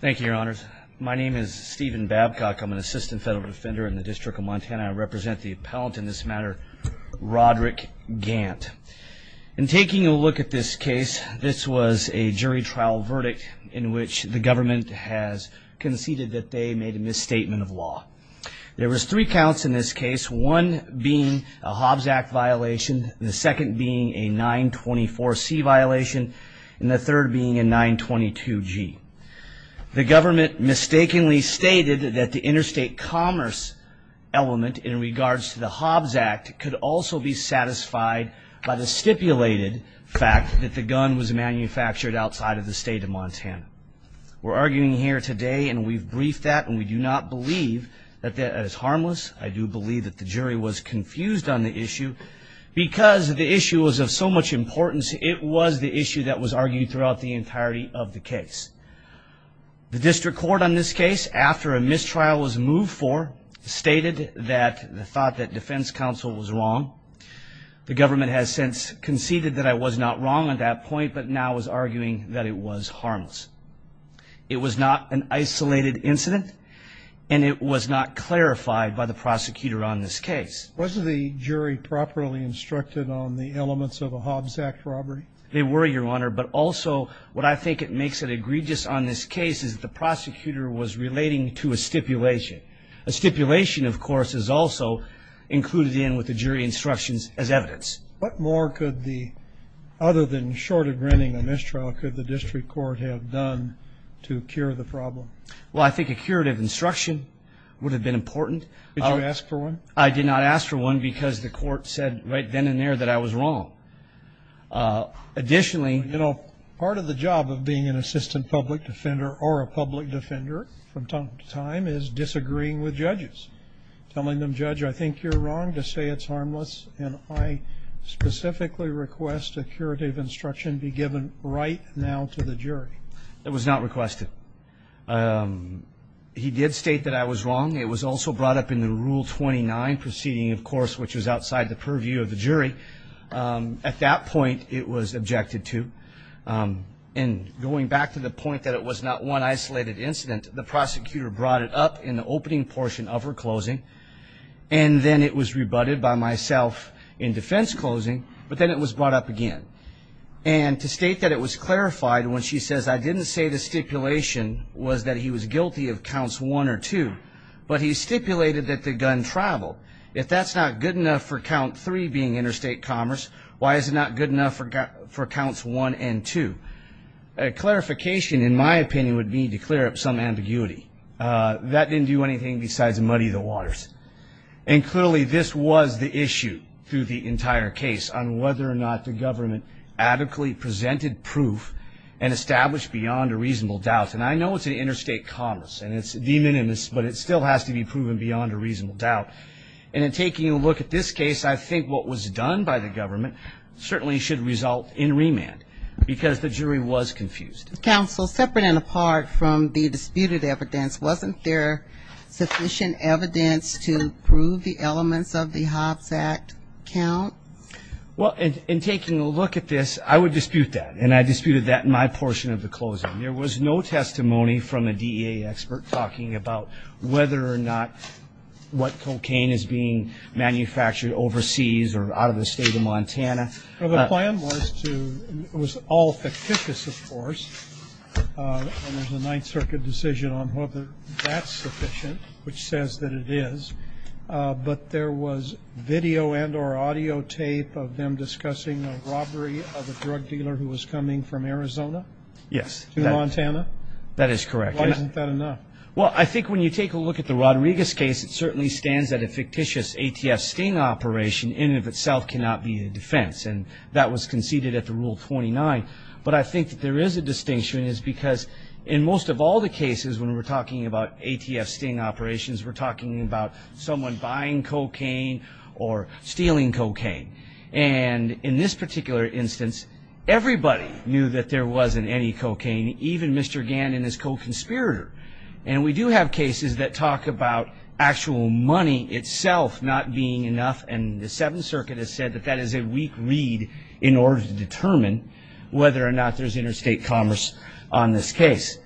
Thank you, your honors. My name is Stephen Babcock. I'm an assistant federal defender in the District of Montana. I represent the appellant in this matter Rodrick Gant and Taking a look at this case. This was a jury trial verdict in which the government has Conceded that they made a misstatement of law There was three counts in this case one being a Hobbs Act violation the second being a 924 C violation and the third being a 922 G The government mistakenly stated that the interstate commerce Element in regards to the Hobbs Act could also be satisfied by the stipulated fact that the gun was Manufactured outside of the state of Montana We're arguing here today, and we've briefed that and we do not believe that that is harmless I do believe that the jury was confused on the issue Because the issue was of so much importance it was the issue that was argued throughout the entirety of the case The district court on this case after a mistrial was moved for stated that the thought that defense counsel was wrong The government has since conceded that I was not wrong at that point, but now was arguing that it was harmless It was not an isolated incident And it was not clarified by the prosecutor on this case was the jury Properly instructed on the elements of a Hobbs Act robbery they were your honor but also what I think it makes it egregious on this case is the prosecutor was relating to a stipulation a Stipulation of course is also Included in with the jury instructions as evidence What more could the other than short of granting the mistrial could the district court have done to cure the problem? Well, I think a curative instruction would have been important Did you ask for one I did not ask for one because the court said right then and there that I was wrong Additionally, you know part of the job of being an assistant public defender or a public defender from time to time is disagreeing with judges Telling them judge. I think you're wrong to say it's harmless and I Specifically request a curative instruction be given right now to the jury. It was not requested He did state that I was wrong It was also brought up in the rule 29 proceeding of course, which was outside the purview of the jury At that point it was objected to and going back to the point that it was not one isolated incident the prosecutor brought it up in the opening portion of her closing and then it was rebutted by myself in defense closing, but then it was brought up again and To state that it was clarified when she says I didn't say the stipulation was that he was guilty of counts one or two But he stipulated that the gun traveled if that's not good enough for count three being interstate commerce why is it not good enough for got four counts one and two a Clarification in my opinion would be to clear up some ambiguity that didn't do anything besides muddy the waters and Clearly this was the issue through the entire case on whether or not the government adequately presented proof and Still has to be proven beyond a reasonable doubt and in taking a look at this case I think what was done by the government certainly should result in remand because the jury was confused counsel separate and apart from the disputed evidence wasn't there sufficient evidence to prove the elements of the Hobbs Act count Well in taking a look at this I would dispute that and I disputed that in my portion of the closing there was no testimony from a DEA expert talking about whether or not What cocaine is being? Manufactured overseas or out of the state of Montana the plan was to it was all fictitious, of course And there's a Ninth Circuit decision on whether that's sufficient which says that it is But there was video and or audio tape of them discussing the robbery of a drug dealer who was coming from Arizona Yes That is correct Well, I think when you take a look at the Rodriguez case It certainly stands that a fictitious ATF sting operation in of itself cannot be the defense and that was conceded at the rule 29 But I think that there is a distinction is because in most of all the cases when we're talking about ATF sting operations we're talking about someone buying cocaine or stealing cocaine and in this particular instance Everybody knew that there wasn't any cocaine even mr. Gannon is co-conspirator and we do have cases that talk about actual money itself Not being enough and the Seventh Circuit has said that that is a weak lead in order to determine Whether or not there's interstate commerce on this case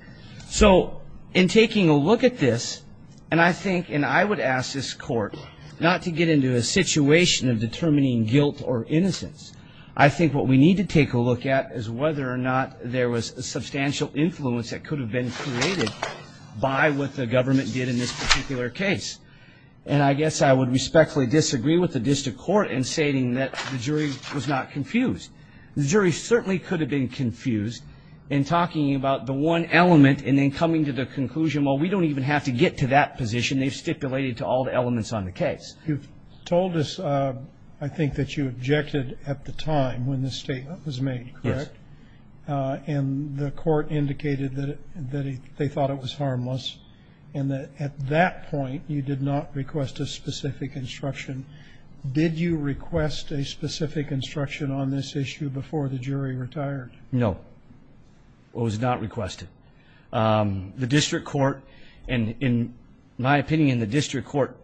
So in taking a look at this and I think and I would ask this court Not to get into a situation of determining guilt or innocence I think what we need to take a look at is whether or not there was a substantial influence that could have been created by what the government did in this particular case and I guess I would respectfully disagree with the district court in stating that the jury was not confused The jury certainly could have been confused in talking about the one element and then coming to the conclusion Well, we don't even have to get to that position. They've stipulated to all the elements on the case Told us I think that you objected at the time when this statement was made And the court indicated that that they thought it was harmless and that at that point you did not request a specific Instruction did you request a specific instruction on this issue before the jury retired? No What was not requested? The district court and in my opinion the district court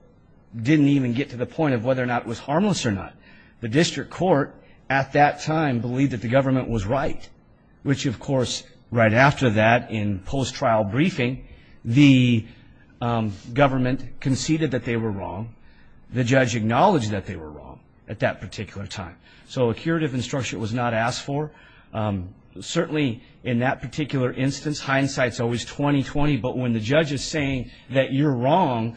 Didn't even get to the point of whether or not it was harmless or not The district court at that time believed that the government was right which of course right after that in post trial briefing the Government conceded that they were wrong. The judge acknowledged that they were wrong at that particular time So a curative instruction was not asked for Certainly in that particular instance hindsight's always 20-20, but when the judge is saying that you're wrong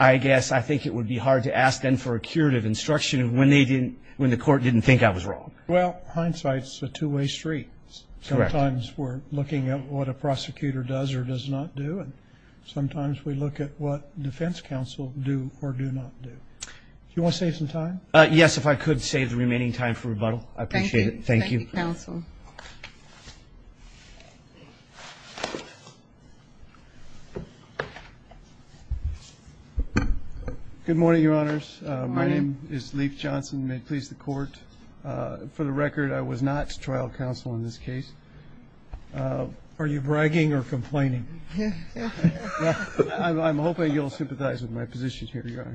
I guess I think it would be hard to ask them for a curative instruction when they didn't when the court didn't think I Was wrong. Well hindsight's a two-way street Sometimes we're looking at what a prosecutor does or does not do and sometimes we look at what defense counsel do or do not Do you want to save some time? Yes, if I could save the remaining time for rebuttal. I appreciate it. Thank you Good Morning your honors. My name is Leif Johnson may please the court For the record. I was not trial counsel in this case Are you bragging or complaining? I'm hoping you'll sympathize with my position here. You're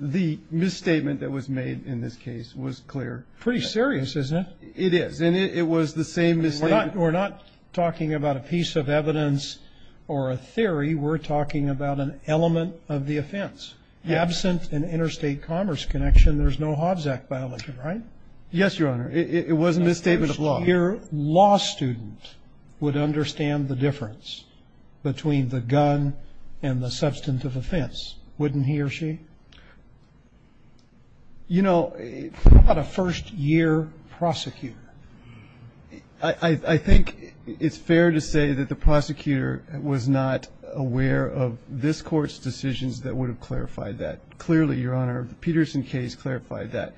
The same we're not we're not talking about a piece of evidence or a theory We're talking about an element of the offense Absent an interstate commerce connection. There's no Hobbs Act violation, right? Yes, your honor It wasn't a statement of law your law student would understand the difference Between the gun and the substantive offense wouldn't he or she? You know About a first-year prosecutor I Think it's fair to say that the prosecutor was not aware of this courts decisions That would have clarified that clearly your honor the Peterson case clarified that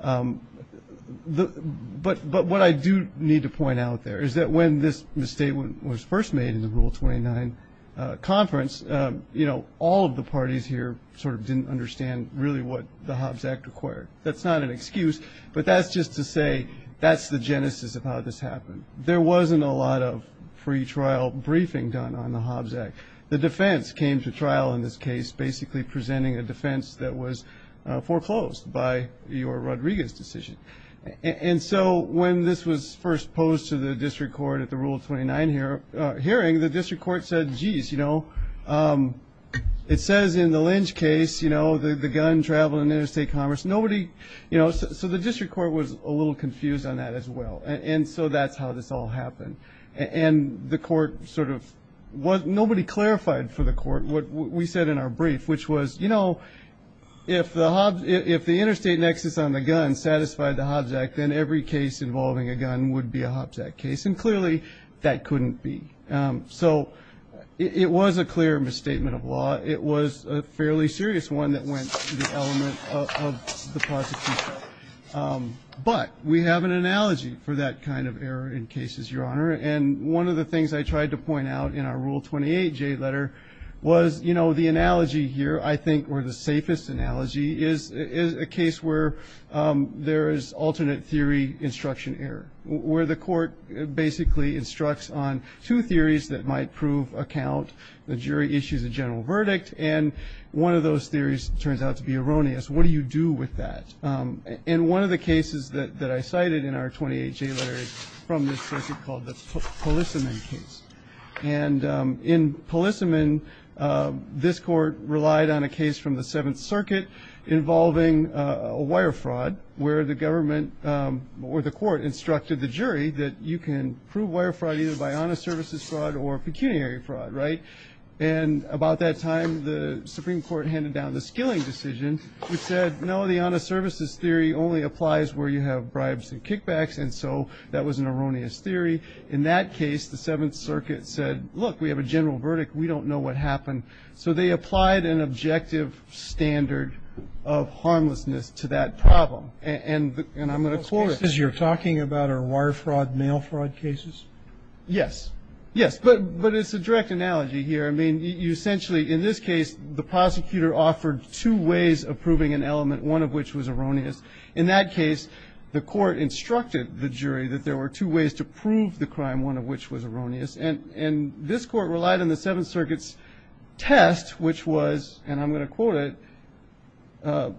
The but but what I do need to point out there is that when this mistake was first made in the rule 29 Conference, you know all of the parties here sort of didn't understand really what the Hobbs Act required That's not an excuse, but that's just to say that's the genesis of how this happened There wasn't a lot of pre-trial briefing done on the Hobbs Act the defense came to trial in this case basically presenting a defense that was Foreclosed by your Rodriguez decision And so when this was first posed to the district court at the rule of 29 here Hearing the district court said jeez, you know It says in the lynch case, you know the the gun travel in interstate commerce Nobody, you know, so the district court was a little confused on that as well And so that's how this all happened and the court sort of what nobody clarified for the court What we said in our brief, which was you know If the Hobbs if the interstate nexus on the gun satisfied the Hobbs Act then every case involving a gun would be a Hobbs Act case And clearly that couldn't be so It was a clear misstatement of law. It was a fairly serious one that went But we have an analogy for that kind of error in cases your honor and one of the things I tried to point out In our rule 28 J letter was you know, the analogy here I think we're the safest analogy is is a case where There is alternate theory instruction error where the court basically instructs on two theories that might prove account the jury issues a general verdict and One of those theories turns out to be erroneous. What do you do with that? in one of the cases that that I cited in our 28 J letters from this called the polissomen case and in polissomen This court relied on a case from the Seventh Circuit Involving a wire fraud where the government where the court instructed the jury that you can prove wire fraud either by honest services fraud or pecuniary fraud, right and About that time the Supreme Court handed down the skilling decision We said no the honest services theory only applies where you have bribes and kickbacks And so that was an erroneous theory in that case. The Seventh Circuit said look we have a general verdict We don't know what happened. So they applied an objective Standard of Harmlessness to that problem and and I'm going to court as you're talking about our wire fraud mail fraud cases Yes, yes, but but it's a direct analogy here I mean you essentially in this case the prosecutor offered two ways of proving an element one of which was erroneous in that case the court Instructed the jury that there were two ways to prove the crime one of which was erroneous and and this court relied on the Seventh Circuit's test which was and I'm going to quote it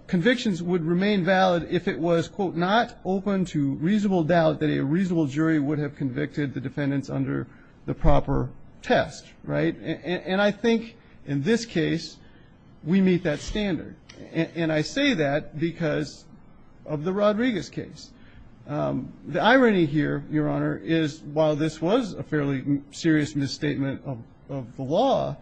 Convictions would remain valid if it was quote not open to reasonable doubt that a reasonable jury would have convicted the defendants under the Proper test right and I think in this case We meet that standard and I say that because of the Rodriguez case The irony here your honor is while this was a fairly serious misstatement of the law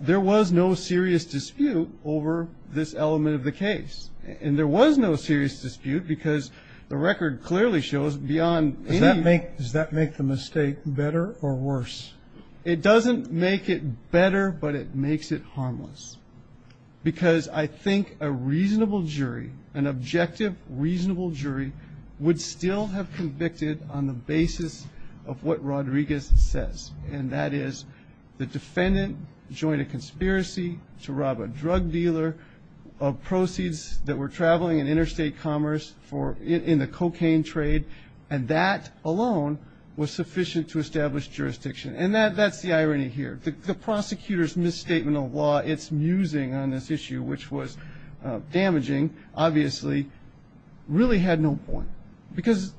There was no serious dispute over this element of the case And there was no serious dispute because the record clearly shows beyond that make does that make the mistake better or worse? It doesn't make it better, but it makes it harmless Because I think a reasonable jury an objective reasonable jury would still have convicted on the basis of what Rodriguez says and that is the defendant joined a conspiracy to rob a drug dealer of Proceeds that were traveling in interstate commerce for in the cocaine trade and that alone Was sufficient to establish jurisdiction and that that's the irony here the prosecutors misstatement of law it's musing on this issue, which was damaging obviously really had no point because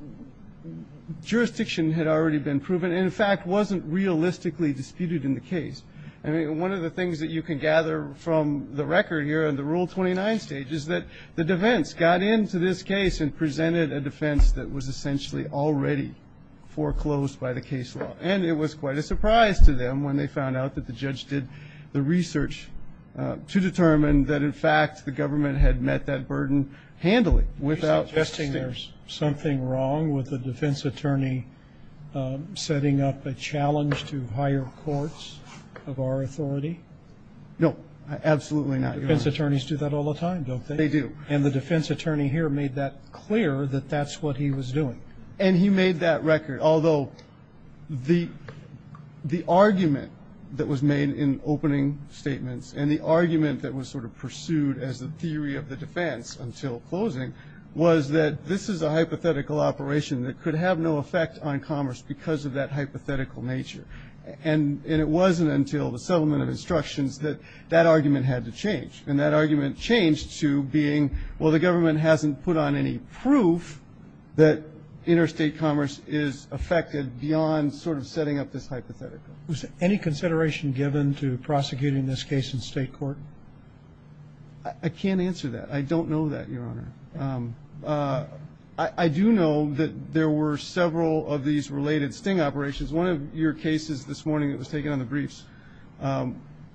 Jurisdiction had already been proven in fact wasn't realistically disputed in the case I mean one of the things that you can gather from the record here in the rule 29 stage Is that the defense got into this case and presented a defense that was essentially already? Foreclosed by the case law and it was quite a surprise to them when they found out that the judge did the research To determine that in fact the government had met that burden Handily without testing there's something wrong with the defense attorney Setting up a challenge to higher courts of our authority No, absolutely not defense attorneys do that all the time don't they do and the defense attorney here made that clear that that's what? He was doing and he made that record although the The argument that was made in opening Statements and the argument that was sort of pursued as the theory of the defense until closing Was that this is a hypothetical operation that could have no effect on commerce because of that hypothetical nature And and it wasn't until the settlement of instructions that that argument had to change and that argument changed to being Well the government hasn't put on any proof that Interstate commerce is affected beyond sort of setting up this hypothetical was any consideration given to prosecuting this case in state court I Can't answer that. I don't know that your honor I do know that there were several of these related sting operations one of your cases this morning. It was taken on the briefs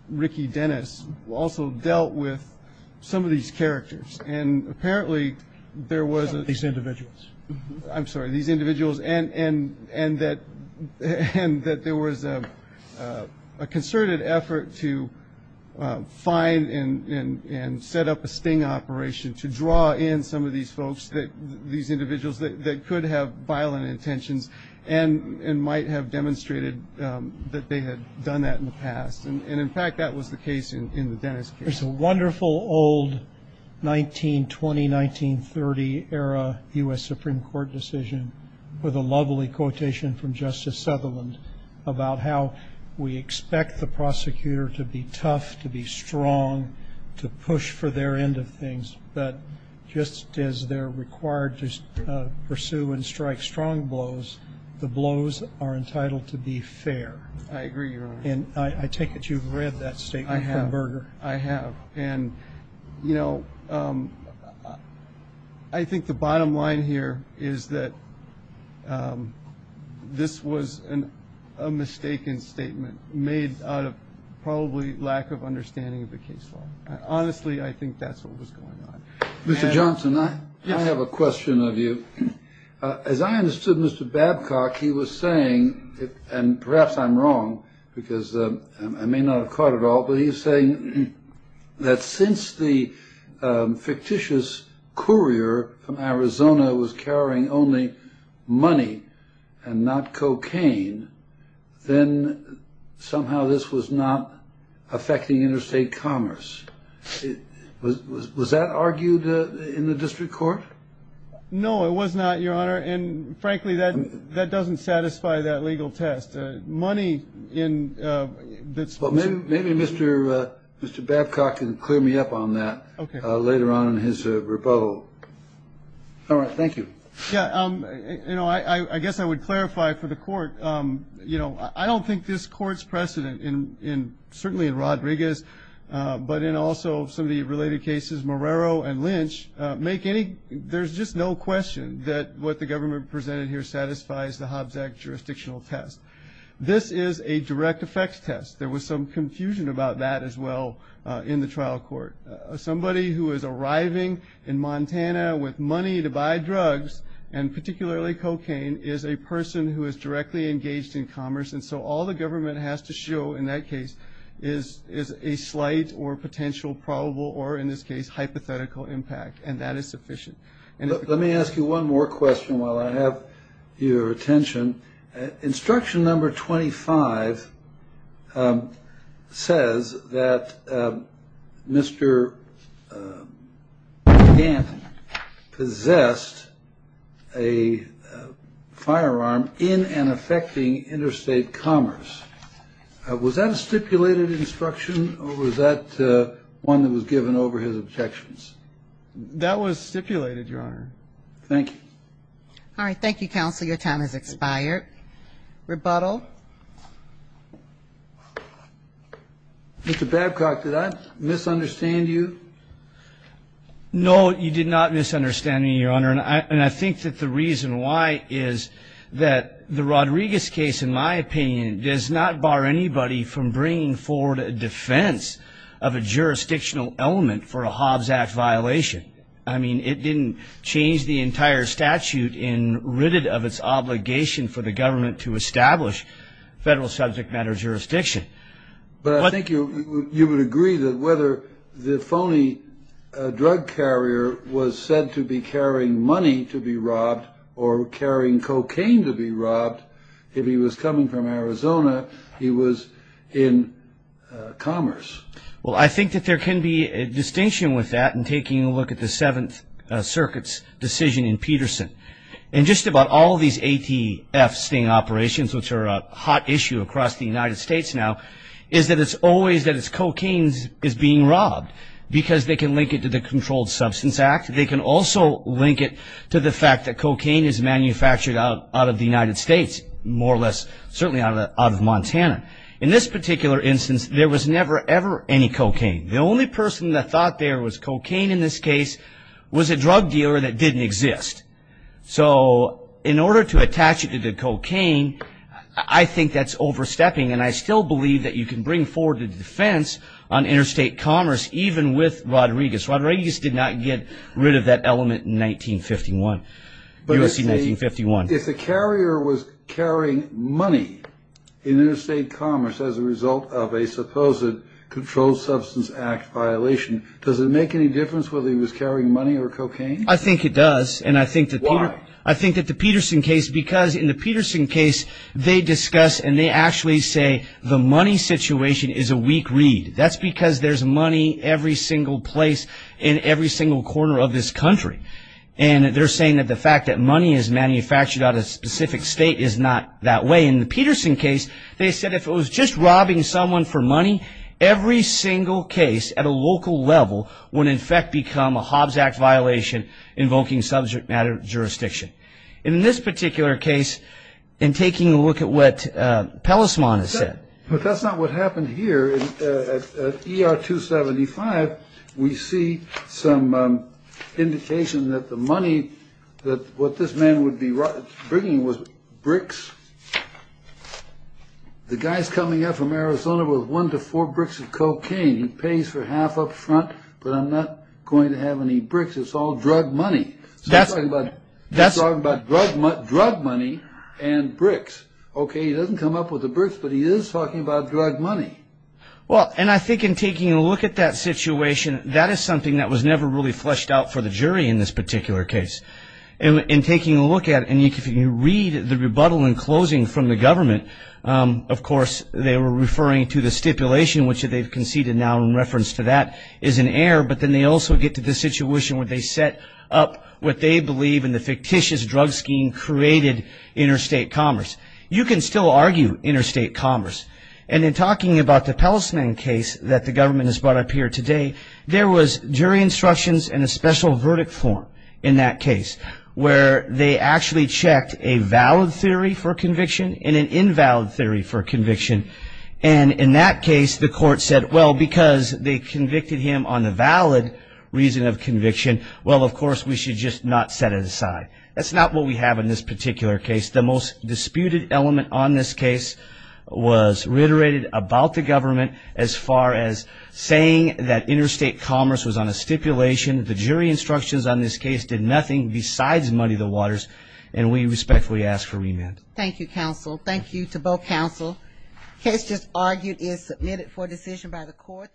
Ricky Dennis also dealt with some of these characters and apparently there was these individuals I'm sorry these individuals and and and that and that there was a concerted effort to find and Set up a sting operation to draw in some of these folks that these individuals that could have violent intentions and And might have demonstrated that they had done that in the past and in fact that was the case in the dentist There's a wonderful old 1920 1930 era u.s. Supreme Court decision with a lovely quotation from Justice Sutherland about how we expect the Prosecutor to be tough to be strong to push for their end of things, but just as they're required to Pursue and strike strong blows the blows are entitled to be fair I agree, and I take it you've read that state. I have burger. I have and You know I Think the bottom line here is that This was an Mistaken statement made out of probably lack of understanding of the case law honestly. I think that's what was going on Mr.. Johnson, I have a question of you As I understood mr. Babcock he was saying and perhaps I'm wrong because I may not have caught at all, but he's saying That since the fictitious Courier from Arizona was carrying only money and not cocaine then Somehow this was not affecting interstate commerce Was that argued in the district court No, it was not your honor and frankly that that doesn't satisfy that legal test money in That's what maybe mr. Mr.. Babcock and clear me up on that later on in his rebuttal All right, thank you. Yeah, you know I I guess I would clarify for the court You know I don't think this courts precedent in in certainly in Rodriguez But in also some of the related cases Marrero and Lynch Make any there's just no question that what the government presented here satisfies the Hobbs act jurisdictional test This is a direct-effects test there was some confusion about that as well in the trial court somebody who is arriving in Montana with money to buy drugs and Particularly cocaine is a person who is directly engaged in commerce and so all the government has to show in that case is Is a slight or potential probable or in this case hypothetical impact and that is sufficient And let me ask you one more question while I have your attention Instruction number 25 Says that Mr. Dan possessed a Firearm in and affecting interstate commerce Was that a stipulated instruction or was that one that was given over his objections? That was stipulated your honor. Thank you Thank You counsel your time has expired rebuttal Mr. Babcock did I misunderstand you? No, you did not misunderstand me your honor And I think that the reason why is that the Rodriguez case in my opinion does not bar anybody from bringing forward a defense of a jurisdictional element for a Hobbs Act violation I mean it didn't change the entire statute in written of its obligation for the government to establish federal subject matter jurisdiction But I think you you would agree that whether the phony Drug carrier was said to be carrying money to be robbed or carrying cocaine to be robbed If he was coming from Arizona, he was in Commerce well I think that there can be a distinction with that and taking a look at the Seventh Circuits decision in Peterson and just about all these ATF sting operations Which are a hot issue across the United States now is that it's always that it's cocaine's is being robbed Because they can link it to the Controlled Substance Act They can also link it to the fact that cocaine is manufactured out out of the United States More or less certainly out of Montana in this particular instance There was never ever any cocaine. The only person that thought there was cocaine in this case was a drug dealer that didn't exist So in order to attach it to the cocaine I think that's overstepping and I still believe that you can bring forward a defense on Interstate Commerce even with Rodriguez Rodriguez did not get rid of that element in 1951 if the carrier was carrying money in interstate commerce as a result of a supposed Controlled Substance Act violation. Does it make any difference whether he was carrying money or cocaine? I think it does and I think that why I think that the Peterson case because in the Peterson case They discuss and they actually say the money situation is a weak read that's because there's money every single place in every single corner of this country and They're saying that the fact that money is manufactured out of specific state is not that way in the Peterson case They said if it was just robbing someone for money Every single case at a local level would in fact become a Hobbs Act violation Invoking subject matter jurisdiction in this particular case in taking a look at what? Pellismon is said, but that's not what happened here er 275 we see some Indication that the money that what this man would be right bringing was bricks The guys coming up from Arizona with one to four bricks of cocaine he pays for half up front But I'm not going to have any bricks. It's all drug money. That's what that's all about drug money drug money and Bricks, okay. He doesn't come up with the bricks, but he is talking about drug money Well, and I think in taking a look at that situation that is something that was never really fleshed out for the jury in this particular case and In taking a look at and you can read the rebuttal and closing from the government Of course they were referring to the stipulation which they've conceded now in reference to that is an air But then they also get to the situation where they set up what they believe in the fictitious drug scheme created Interstate commerce you can still argue interstate commerce and in talking about the Pellismon case that the government has brought up here today There was jury instructions and a special verdict form in that case where they actually checked a valid theory for conviction in an invalid theory for conviction and In that case the court said well because they convicted him on the valid reason of conviction Well, of course, we should just not set it aside. That's not what we have in this particular case the most disputed element on this case Was reiterated about the government as far as saying that interstate commerce was on a stipulation The jury instructions on this case did nothing besides muddy the waters and we respectfully ask for remand. Thank you counsel Thank you to both counsel Case just argued is submitted for decision by the court